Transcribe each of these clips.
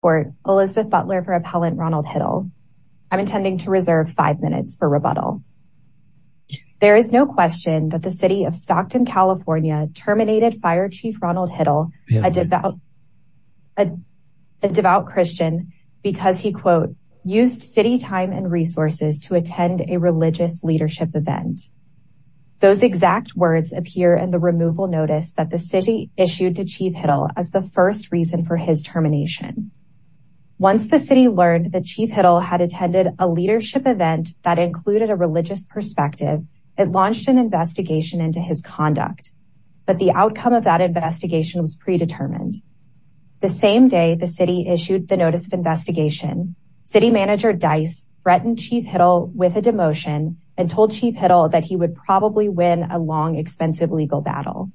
court Elizabeth Butler for appellant Ronald Hiddle. I'm intending to reserve five minutes for rebuttal. There is no question that the City of Stockton, California terminated Fire Chief Ronald Hiddle, a devout Christian, because he quote, used city time and resources to attend a religious leadership event. Those exact words appear in the removal notice that the city issued to Chief Hiddle as the first reason for his termination. Once the city learned that Chief Hiddle had attended a leadership event that included a religious perspective, it launched an investigation into his conduct. But the outcome of that investigation was predetermined. The same day the city issued the notice of investigation, City Manager Dice threatened Chief Hiddle with a demotion and told Chief Hiddle that he would probably win a long expensive legal battle.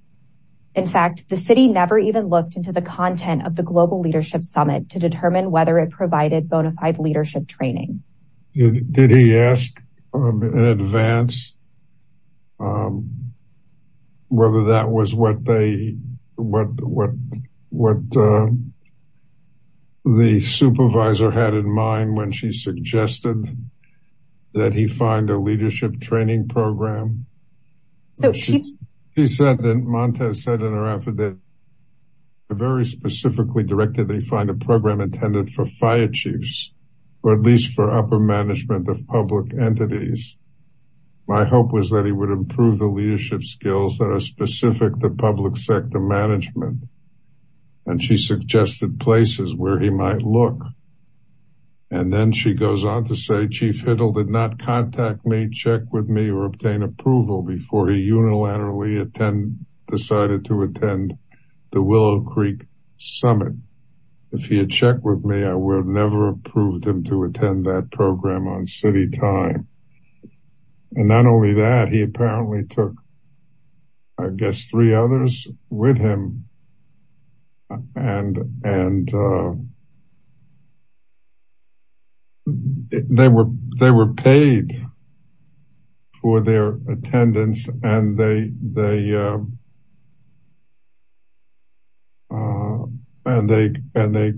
In fact, the city never even looked into the content of the global leadership summit to determine whether it provided bonafide leadership training. Did he ask in advance whether that was what they what what what the supervisor had in mind when she suggested that he find a leadership training program? So she said that Montez said in her affidavit, very specifically directed they find a program intended for fire chiefs, or at least for upper management of public entities. My hope was that he would improve the leadership skills that are specific to public sector management. And she suggested places where he might look. And then she goes on to say, Chief Hiddle did not contact me check with me or obtain approval before he unilaterally attend decided to attend the Willow Creek summit. If he had checked with me, I would never approved him to attend that program on city time. And not they were they were paid for their attendance and they they and they and they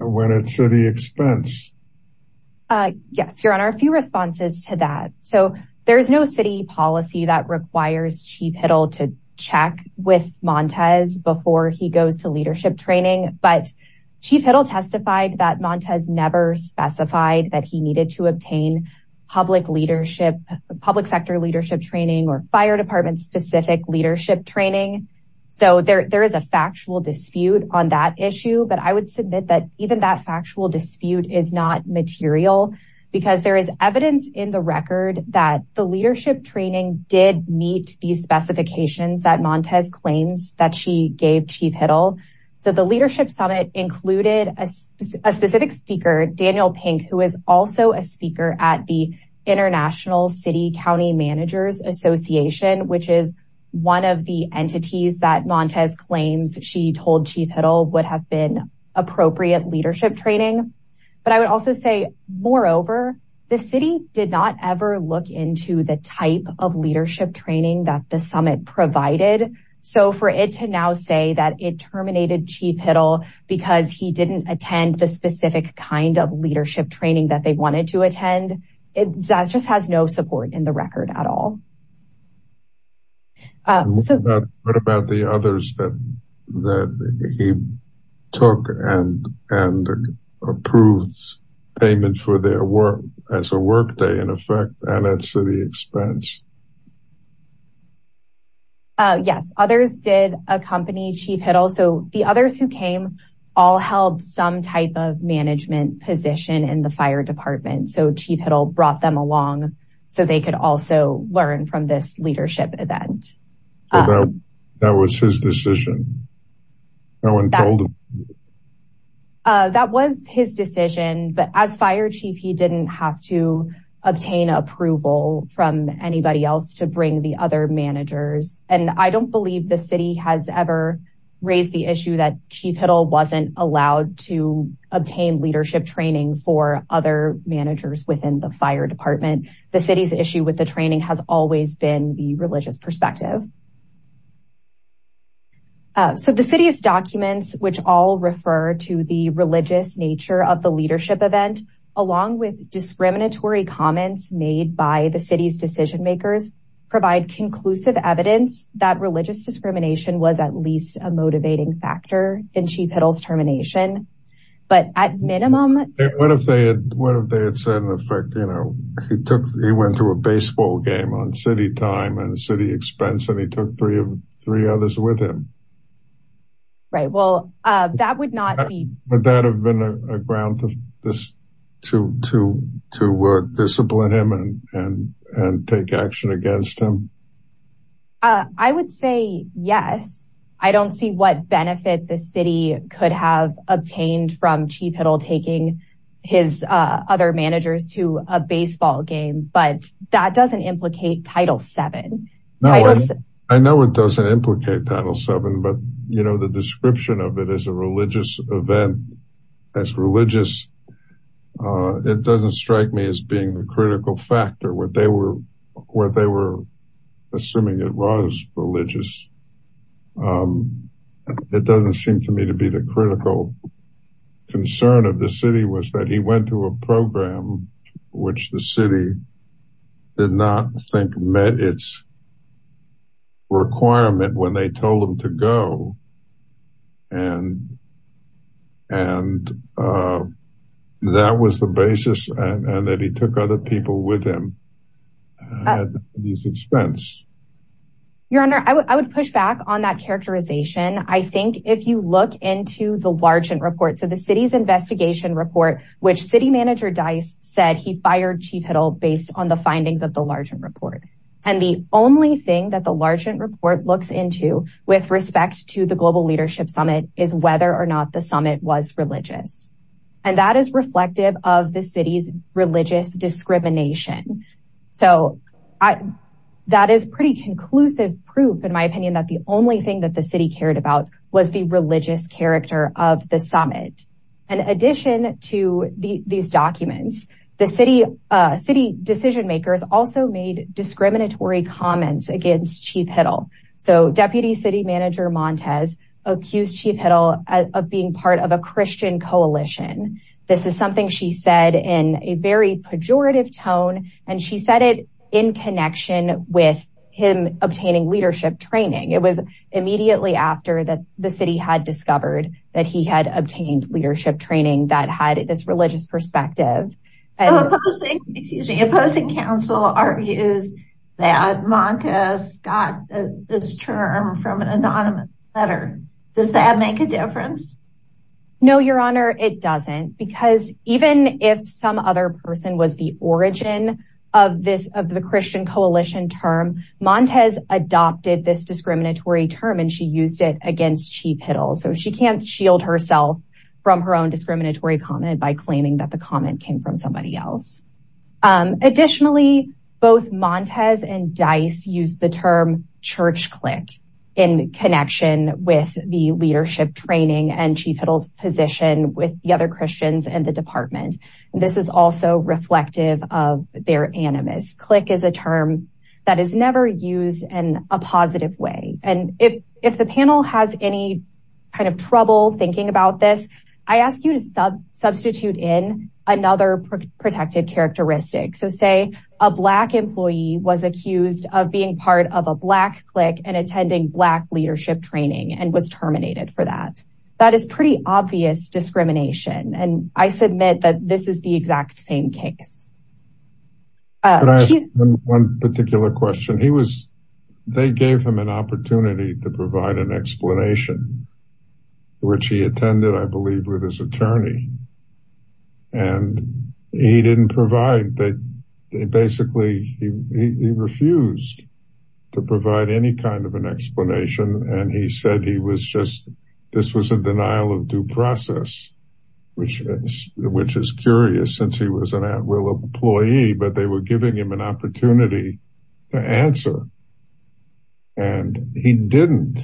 went at city expense. Yes, Your Honor, a few responses to that. So there's no city policy that requires Chief before he goes to leadership training. But Chief Hiddle testified that Montez never specified that he needed to obtain public leadership, public sector leadership training or fire department specific leadership training. So there is a factual dispute on that issue. But I would submit that even that factual dispute is not material, because there is evidence in the record that the leadership training did meet the specifications that Montez claims that she gave Chief Hiddle. So the leadership summit included a specific speaker Daniel Pink, who is also a speaker at the International City County Managers Association, which is one of the entities that Montez claims she told Chief Hiddle would have been appropriate leadership training. But I did not ever look into the type of leadership training that the summit provided. So for it to now say that it terminated Chief Hiddle, because he didn't attend the specific kind of leadership training that they wanted to attend. It just has no support in the record at all. What about the others that he took and approved payment for their work as a workday, in effect, and at city expense? Yes, others did accompany Chief Hiddle. So the others who came all held some type of management position in the fire department. So Chief Hiddle brought them along, so they could also learn from this leadership event. That was his decision. No one told him. That was his decision. But as fire chief, he didn't have to obtain approval from anybody else to bring the other managers. And I don't believe the city has ever raised the issue that Chief Hiddle wasn't allowed to obtain leadership training for other managers within the fire department. The city's issue with the training has always been the religious perspective. So the city's documents, which all refer to the religious nature of the leadership event, along with discriminatory comments made by the city's decision makers, provide conclusive evidence that religious discrimination was at least a motivating factor in Chief Hiddle's termination. But at minimum... What if they had said, in effect, he went to a baseball game on city time and city expense, and he took three others with him? Right. Well, that would not be... Would that have been a ground to discipline him and take action against him? I would say yes. I don't see what benefit the city could have obtained from Chief Hiddle taking his other managers to a baseball game, but that doesn't implicate Title VII. I know it doesn't implicate Title VII, but the description of it as a religious event, as religious, it doesn't strike me as being the critical factor where they were assuming it was religious. It doesn't seem to me to be the critical concern of the city was that he went to a program which the city did not think met its requirement when they told him to go. And that was the basis, and that he took other people with him at his expense. Your Honor, I would push back on that characterization. I think if you look into the Largent Report, so the city's investigation report, which city manager Dice said he fired Chief Hiddle based on the findings of the Largent Report. And the only thing that the Largent Report looks into with respect to the Global Leadership Summit is whether or not the summit was religious. And that is reflective of the city's religious discrimination. So that is pretty conclusive proof, in my opinion, that the only thing that the city cared about was the religious character of the summit. In addition to these documents, the city decision makers also made discriminatory comments against Chief Hiddle. So Deputy City Manager Montes accused Chief Hiddle of being part of a Christian coalition. This is something she said in a very pejorative tone, and she said it in connection with him obtaining leadership training. It was immediately after that the city had discovered that he had obtained leadership training that had this religious perspective. The opposing counsel argues that Montes got this term from an anonymous letter. Does that make a difference? No, Your Honor, it doesn't. Because even if some person was the origin of the Christian coalition term, Montes adopted this discriminatory term, and she used it against Chief Hiddle. So she can't shield herself from her own discriminatory comment by claiming that the comment came from somebody else. Additionally, both Montes and Dice used the term church click in connection with the leadership training and Chief Hiddle's position with the other Christians in the department. This is also reflective of their animus. Click is a term that is never used in a positive way, and if the panel has any kind of trouble thinking about this, I ask you to substitute in another protected characteristic. So say a Black employee was accused of being part of a Black click and attending Black leadership training and was obviously discriminated against. I submit that this is the exact same case. Can I ask one particular question? They gave him an opportunity to provide an explanation, which he attended, I believe, with his attorney. He refused to provide any kind of an explanation, and he said this was a denial of due process, which is curious since he was an at-will employee, but they were giving him an opportunity to answer, and he didn't.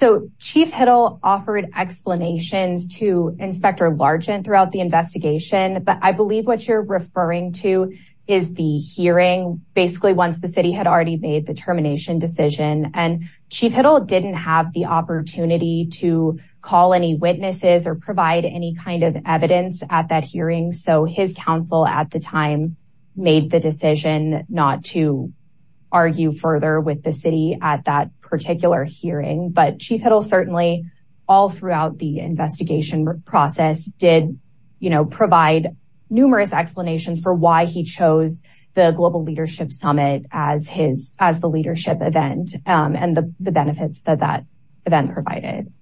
So Chief Hiddle offered explanations to Inspector Largent throughout the investigation, but I believe what you're referring to is the hearing, basically once the city had already made the termination decision, and Chief Hiddle didn't have the opportunity to call any witnesses or provide any kind of evidence at that hearing, so his counsel at the time made the decision not to argue further with the city at that particular hearing, but Chief Hiddle certainly all throughout the investigation process did provide numerous explanations for why he chose the Global Leadership Summit as the leadership event and the benefits that that event provided.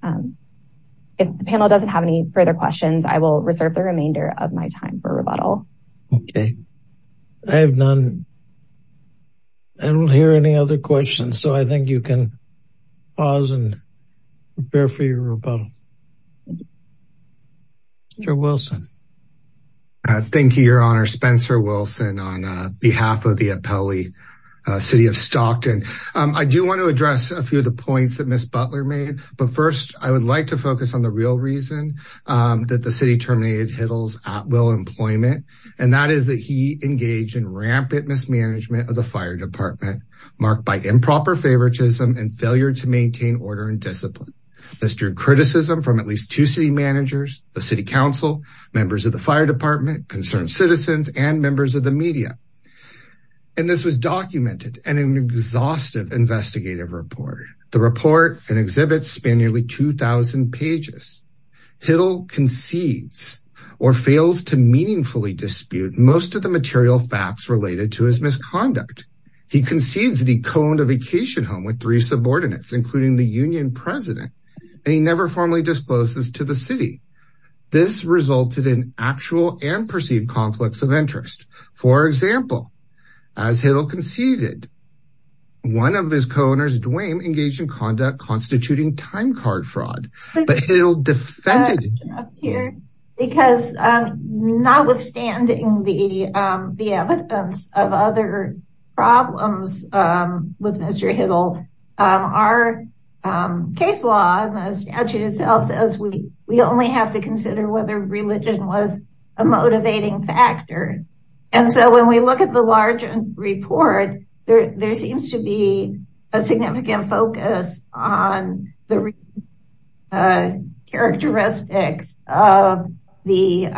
If the panel doesn't have any further questions, I will reserve the remainder of my time for rebuttal. I don't hear any other questions, so I think you can pause and prepare for your rebuttal. Mr. Wilson. Thank you, Your Honor. Spencer Wilson on behalf of the Appellee City of Stockton. I do want to address a few of the points that Ms. Butler made, but first I would like to focus on the real reason that the city terminated Hiddle's at-will employment, and that is that he engaged in rampant mismanagement of the fire department, marked by improper favoritism and failure to maintain order and discipline. This drew criticism from at least two city managers, the city council, members of the fire department, concerned citizens, and members of the media, and this was documented in an exhaustive investigative report. The report and exhibit span nearly 2,000 pages. Hiddle concedes or fails to meaningfully dispute most of the material facts related to his misconduct. He concedes that he co-owned a vacation home with three subordinates, including the union president, and he never formally disclosed this to the city. This resulted in actual and perceived conflicts of interest. For example, as Hiddle conceded, one of his co-owners, Dwayne, engaged in conduct constituting time card fraud. But Hiddle defended... Because notwithstanding the evidence of other problems with Mr. Hiddle, our case law and the statute itself says we only have to consider whether religion was a motivating factor, and so when we look at the larger report, there seems to be a significant focus on the characteristics of the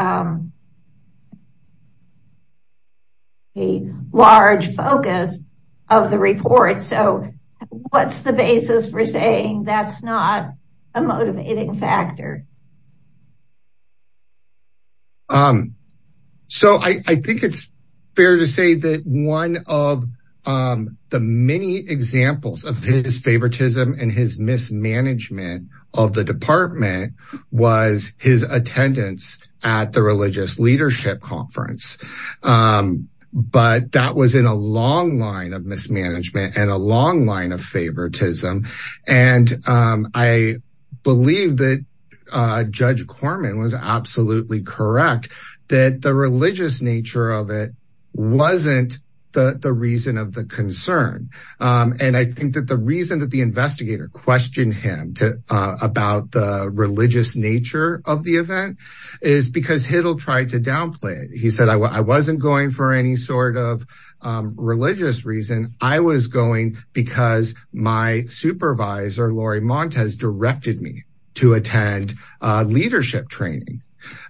large focus of the report, so what's the basis for saying that's not a motivating factor? So I think it's fair to say that one of the many examples of his favoritism and his mismanagement of the department was his attendance at the religious leadership conference, but that was in a long line of mismanagement and a long line of favoritism, and I believe that Judge Corman was absolutely correct that the religious nature of it wasn't the reason of him, about the religious nature of the event, is because Hiddle tried to downplay it. He said, I wasn't going for any sort of religious reason. I was going because my supervisor, Lori Montes, directed me to attend leadership training,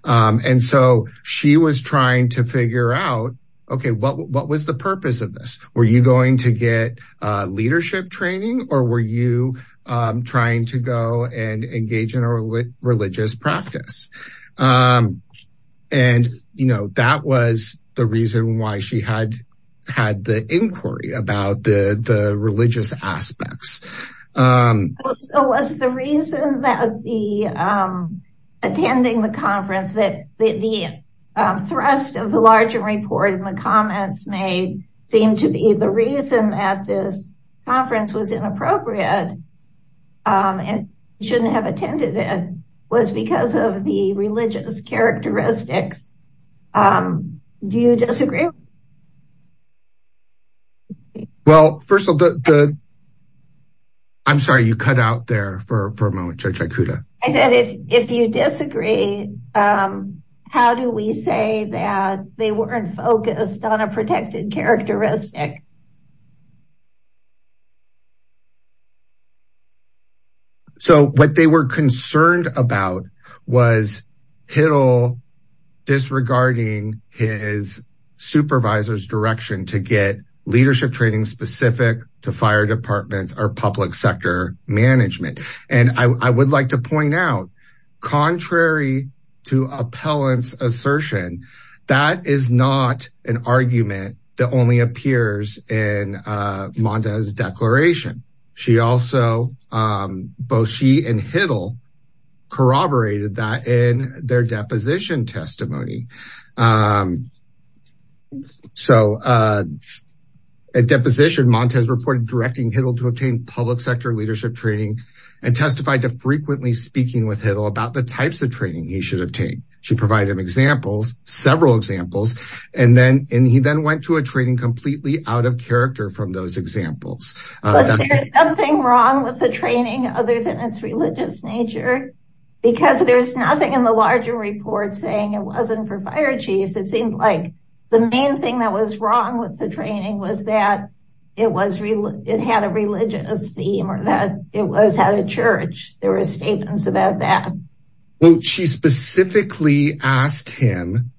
and so she was trying to figure out, okay, what was the purpose of this? Were you going to get leadership training or were you trying to go and engage in a religious practice? And that was the reason why she had the inquiry about the religious aspects. So was the reason that the attending the conference that the thrust of the larger report in the comments may seem to be the reason that this conference was and shouldn't have attended it was because of the religious characteristics. Do you disagree? Well, first of all, I'm sorry, you cut out there for a moment, Judge Ikuda. I said, if you disagree, how do we say that they weren't focused on a protected characteristic? So what they were concerned about was Hiddle disregarding his supervisor's direction to get leadership training specific to fire departments or public sector management. And I would like to point out, contrary to appellant's assertion, that is not an argument that only appears in both she and Hiddle corroborated that in their deposition testimony. So at deposition, Montez reported directing Hiddle to obtain public sector leadership training and testified to frequently speaking with Hiddle about the types of training he should obtain. She provided him examples, several examples, and then he then went to a training completely out of character from those examples. Was there something wrong with the training other than its religious nature? Because there's nothing in the larger report saying it wasn't for fire chiefs. It seemed like the main thing that was wrong with the training was that it had a religious theme or that it was at a church. There were statements about that. She specifically asked him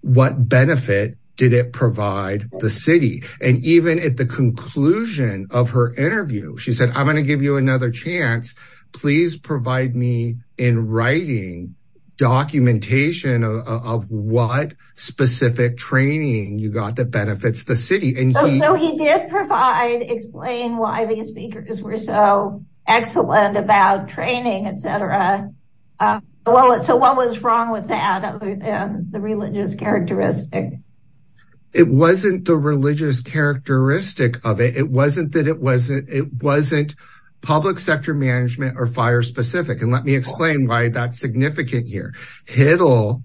what benefit did it provide the city? And even at the conclusion of her interview, she said, I'm going to give you another chance. Please provide me in writing documentation of what specific training you got that benefits the city. So he did provide, explain why these speakers were so excellent about training, etc. So what was wrong with that other than the religious characteristic? It wasn't the religious characteristic of it. It wasn't that it wasn't it wasn't public sector management or fire specific. And let me explain why that's significant here. Hiddle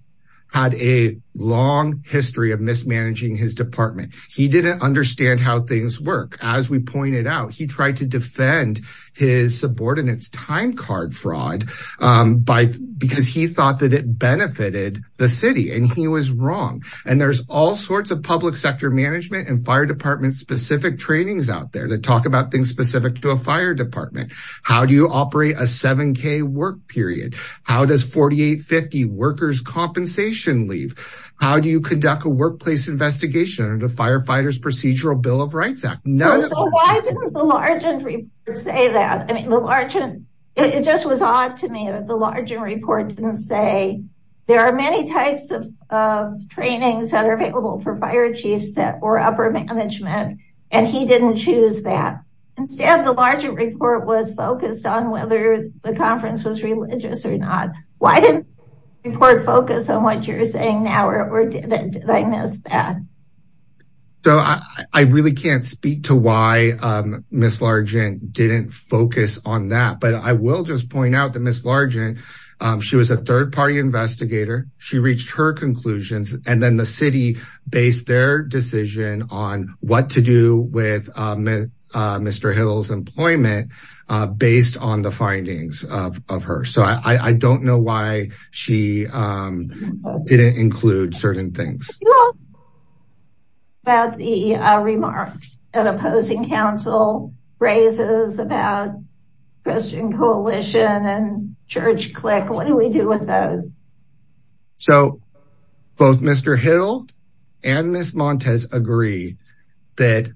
had a long history of mismanaging his department. He didn't understand how things work. As we pointed out, he tried to defend his subordinates time card fraud because he thought that it benefited the city and he was wrong. And there's all sorts of public sector management and fire department specific trainings out there that talk about things specific to a fire department. How do you operate a 7k work period? How does 4850 workers compensation leave? How do you conduct a large and say that? I mean, the large and it just was odd to me that the larger report didn't say there are many types of trainings that are available for fire chiefs or upper management, and he didn't choose that. Instead, the larger report was focused on whether the conference was religious or not. Why didn't report focus on what you're saying now or did I miss that? So I really can't speak to why Miss Largent didn't focus on that. But I will just point out that Miss Largent, she was a third party investigator, she reached her conclusions, and then the city based their decision on what to do with Mr. Hill's employment, based on the findings of her. So I don't know why she didn't include certain things. About the remarks and opposing counsel raises about Christian coalition and church click, what do we do with those? So both Mr. Hill and Miss Montez agree that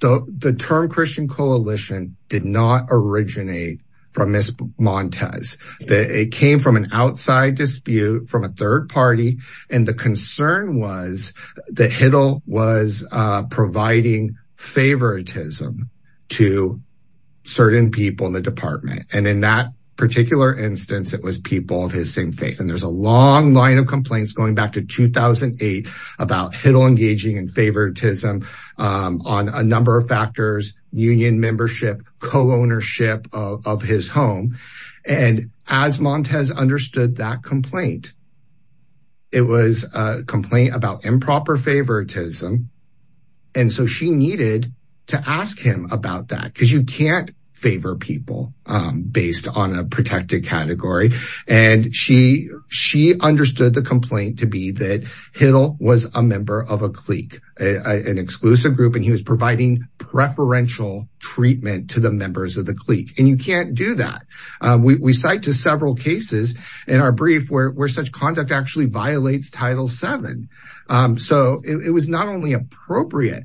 the term Christian coalition did not originate from Miss Montez, that it came from an outside dispute from a third party. And concern was that Hiddle was providing favoritism to certain people in the department. And in that particular instance, it was people of his same faith. And there's a long line of complaints going back to 2008, about Hiddle engaging in favoritism on a number of factors, union membership, co-ownership of his home. And as Montez understood that complaint, it was a complaint about improper favoritism. And so she needed to ask him about that, because you can't favor people based on a protected category. And she understood the complaint to be that Hiddle was a member of a clique, an exclusive group, and he was providing preferential treatment to the members of the clique. And you can't do that. We cite to several cases in our brief where such conduct actually violates Title VII. So it was not only appropriate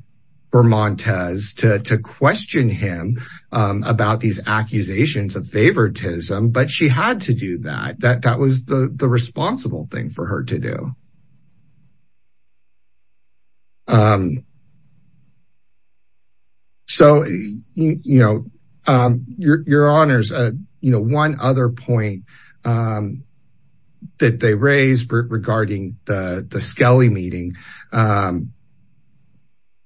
for Montez to question him about these accusations of favoritism, but she had to do that. That was the responsible thing for her to do. So, your honors, one other point that they raised regarding the Skelly meeting.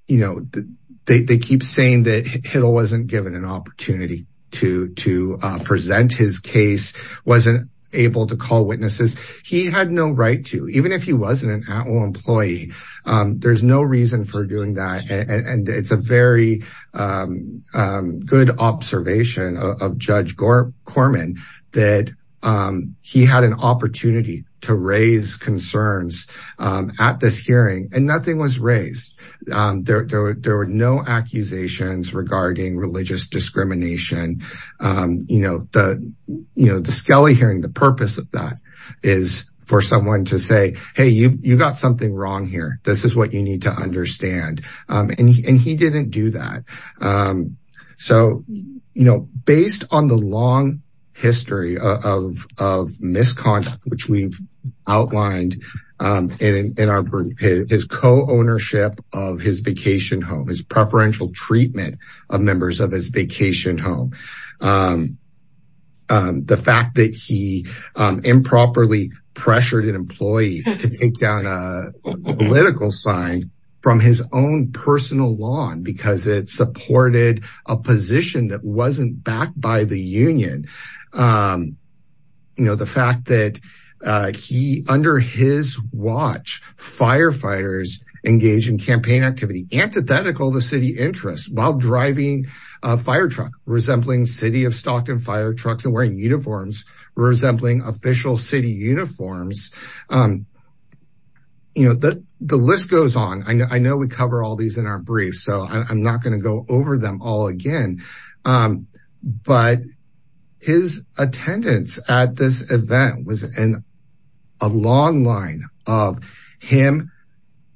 They keep saying that Hiddle wasn't given an opportunity to raise concerns at this hearing, and nothing was raised. There were no accusations regarding religious discrimination. The Skelly hearing, the purpose of that is for someone to say, hey, you got something wrong here. This is what you need to understand. And he didn't do that. So, based on the long history of misconduct, which we've outlined, and his co-ownership of his preferential treatment of members of his vacation home, the fact that he improperly pressured an employee to take down a political sign from his own personal lawn because it supported a position that wasn't backed by the union, and the fact that under his watch, firefighters engaged in campaign activity antithetical to city interests while driving a firetruck resembling city of Stockton firetrucks and wearing uniforms resembling official city uniforms. The list goes on. I know we cover all these in our briefs, so I'm not going to go over them all again. But his attendance at this event was a long line of him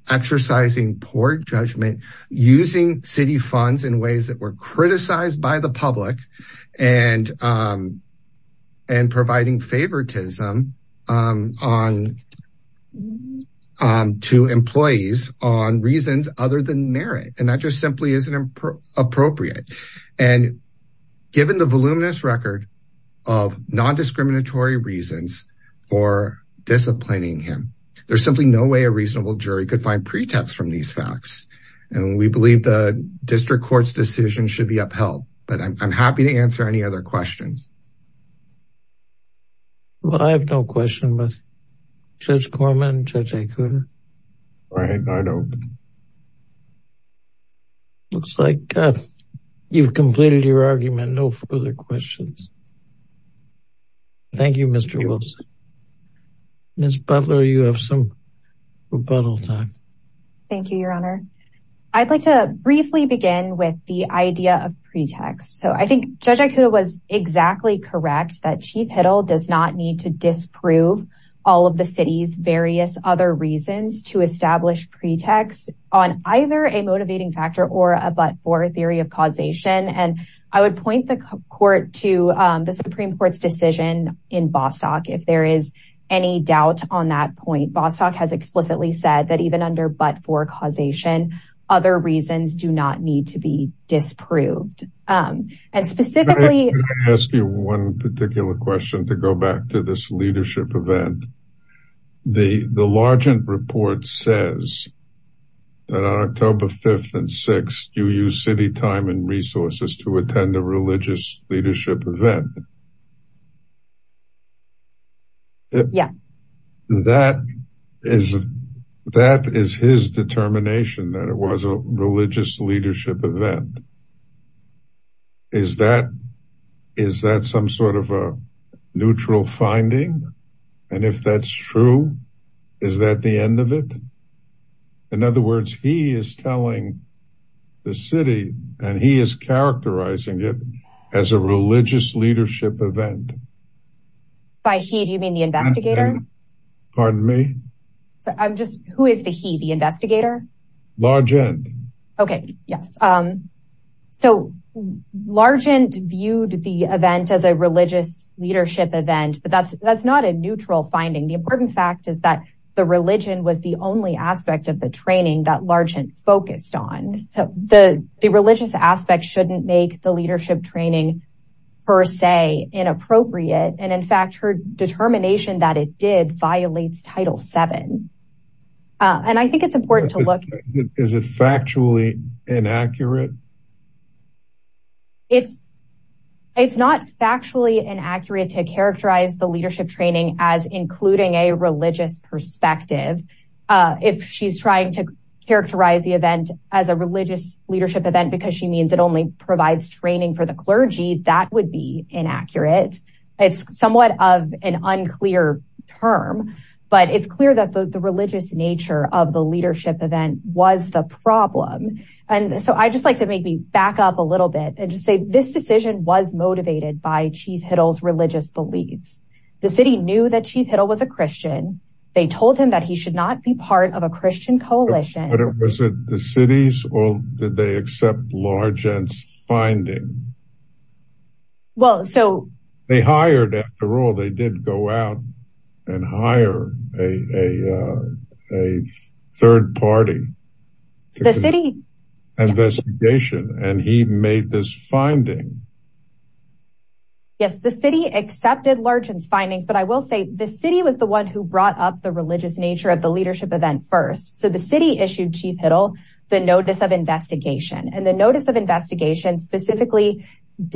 exercising poor judgment, using city funds in ways that were criticized by the public, and providing favoritism to employees on reasons other than merit. And that just simply isn't appropriate. And given the voluminous record of non-discriminatory reasons for disciplining him, there's simply no way a reasonable jury could find pretext from these facts. And we believe the answer any other questions? Well, I have no question, but Judge Corman, Judge Acuda? All right, I don't. Looks like you've completed your argument. No further questions. Thank you, Mr. Wilson. Ms. Butler, you have some rebuttal time. Thank you, Your Honor. I'd like to say Judge Acuda was exactly correct that Chief Hiddle does not need to disprove all of the city's various other reasons to establish pretext on either a motivating factor or a but-for theory of causation. And I would point the Supreme Court's decision in Bostock if there is any doubt on that point. Bostock has explicitly said that even under but-for causation, other reasons do need to be disproved. And specifically... Can I ask you one particular question to go back to this leadership event? The Largent report says that on October 5th and 6th, you use city time and resources to attend a religious leadership event. Yes. That is his determination that it was a religious leadership event. Is that some sort of a neutral finding? And if that's true, is that the end of it? In other words, he is telling the city and he is characterizing it as a religious leadership event. By he, do you mean the investigator? Pardon me? Who is the he, the investigator? Largent. Okay, yes. So, Largent viewed the event as a religious leadership event, but that's not a aspect of the training that Largent focused on. So, the religious aspect shouldn't make the leadership training, per se, inappropriate. And in fact, her determination that it did violates Title VII. And I think it's important to look... Is it factually inaccurate? It's not factually inaccurate to characterize the leadership training as including a religious perspective. If she's trying to characterize the event as a religious leadership event because she means it only provides training for the clergy, that would be inaccurate. It's somewhat of an unclear term, but it's clear that the religious nature of the leadership event was the problem. And so, I'd just like to maybe back up a little bit and just say this decision was motivated by Chief Hiddle's religious beliefs. The city knew that Chief Hiddle was a Christian. They told him that he should not be part of a Christian coalition. But was it the city's or did they accept Largent's finding? Well, so... They hired, after all, they did go out and hire a third party. The city... Investigation, and he made this finding. Yes, the city accepted Largent's findings, but I will say the city was the one who brought up the religious nature of the leadership event first. So, the city issued Chief Hiddle the Notice of Investigation. And the Notice of Investigation specifically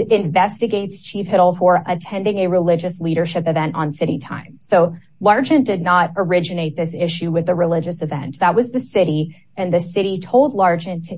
investigates Chief Hiddle for attending a religious leadership event on city time. So, Largent did not originate this issue with the religious event. That was the city, and the city told Largent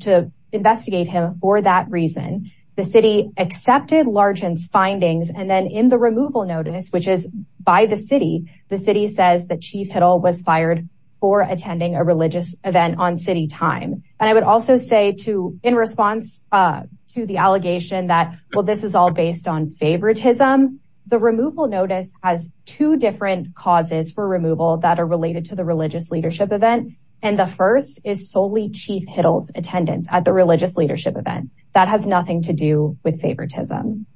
to investigate him for that reason. The city accepted Largent's findings, and then in the removal notice, which is by the city, the city says that Chief Hiddle was fired for attending a religious event on city time. And I would also say to, in response to the allegation that, well, this is all based on favoritism, the removal notice has two different causes for removal that are related to the first is solely Chief Hiddle's attendance at the religious leadership event. That has nothing to do with favoritism.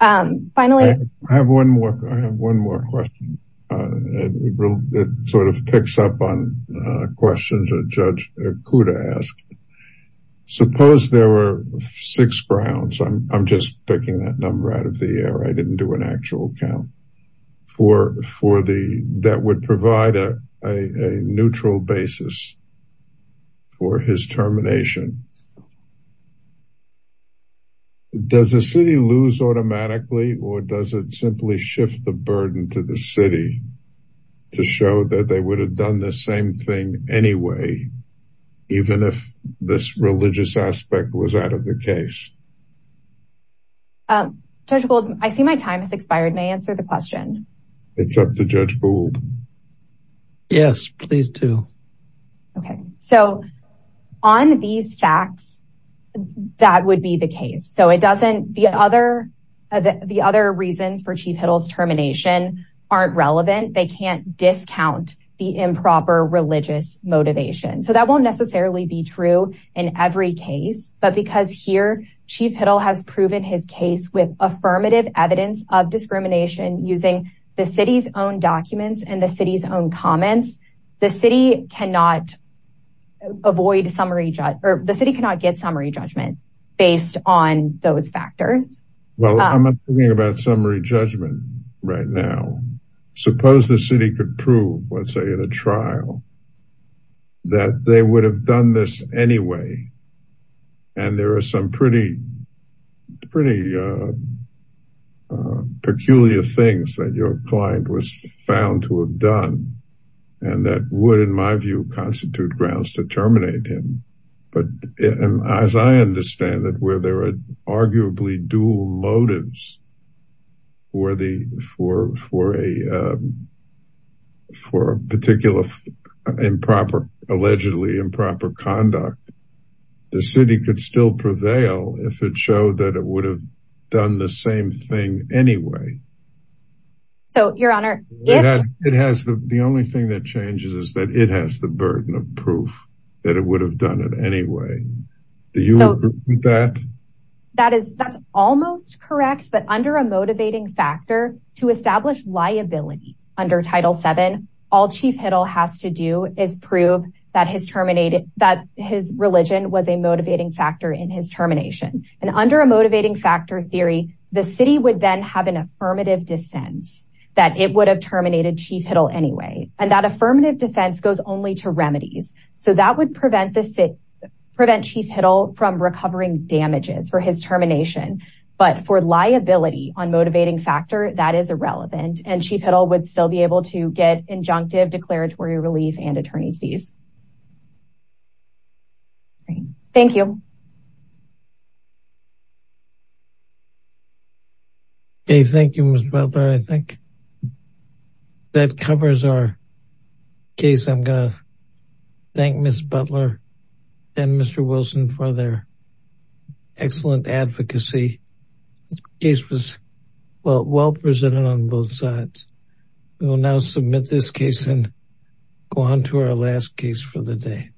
Finally... I have one more. I have one more question. It sort of picks up on questions that Judge Kuda asked. Suppose there were six Browns. I'm just picking that number out of the air. I didn't do an actual count. That would provide a neutral basis for his termination. Does the city lose automatically, or does it simply shift the burden to the city to show that they would have done the same thing anyway, even if this religious aspect was out of the case? Judge Gould, I see my time has expired. May I answer the question? It's up to Judge Gould. Yes, please do. Okay. So on these facts, that would be the case. So it doesn't, the other reasons for Chief Hiddle's termination aren't relevant. They can't discount the improper religious motivation. So that won't necessarily be true in every case, but because here, Chief Hiddle has proven his case with affirmative evidence of discrimination using the city's own documents and the city's own comments, the city cannot get summary judgment based on those factors. Well, I'm not talking about summary judgment right now. Suppose the city could prove, let's say in a trial, that they would have done this anyway. And there are some pretty peculiar things that your client was found to have done, and that would, in my view, constitute grounds to terminate him. But as I understand it, where there are arguably dual motives for a particular improper, allegedly improper conduct, the city could still prevail if it showed that it would have done the same thing anyway. So, Your Honor, if- It has, the only thing that changes is that it has the burden of proof that it would have done it anyway. Do you agree with that? That is, that's almost correct, but under a motivating factor, to establish liability under Title VII, all Chief Hiddle has to do is prove that his religion was a motivating factor in his termination. And under a motivating factor theory, the city would then have an affirmative defense that it would have terminated Chief Hiddle anyway. And that affirmative defense goes only to remedies. So that would prevent Chief Hiddle from recovering damages for his termination. But for liability on motivating factor, that is irrelevant, and Chief Hiddle would still be able to get injunctive declaratory relief and attorney's fees. Thank you. Okay, thank you, Ms. Butler. I think that covers our case. I'm going to thank Ms. Butler and Mr. Wilson for their excellent advocacy. This case was well presented on both sides. We will now submit this case and go on to our last case for the day.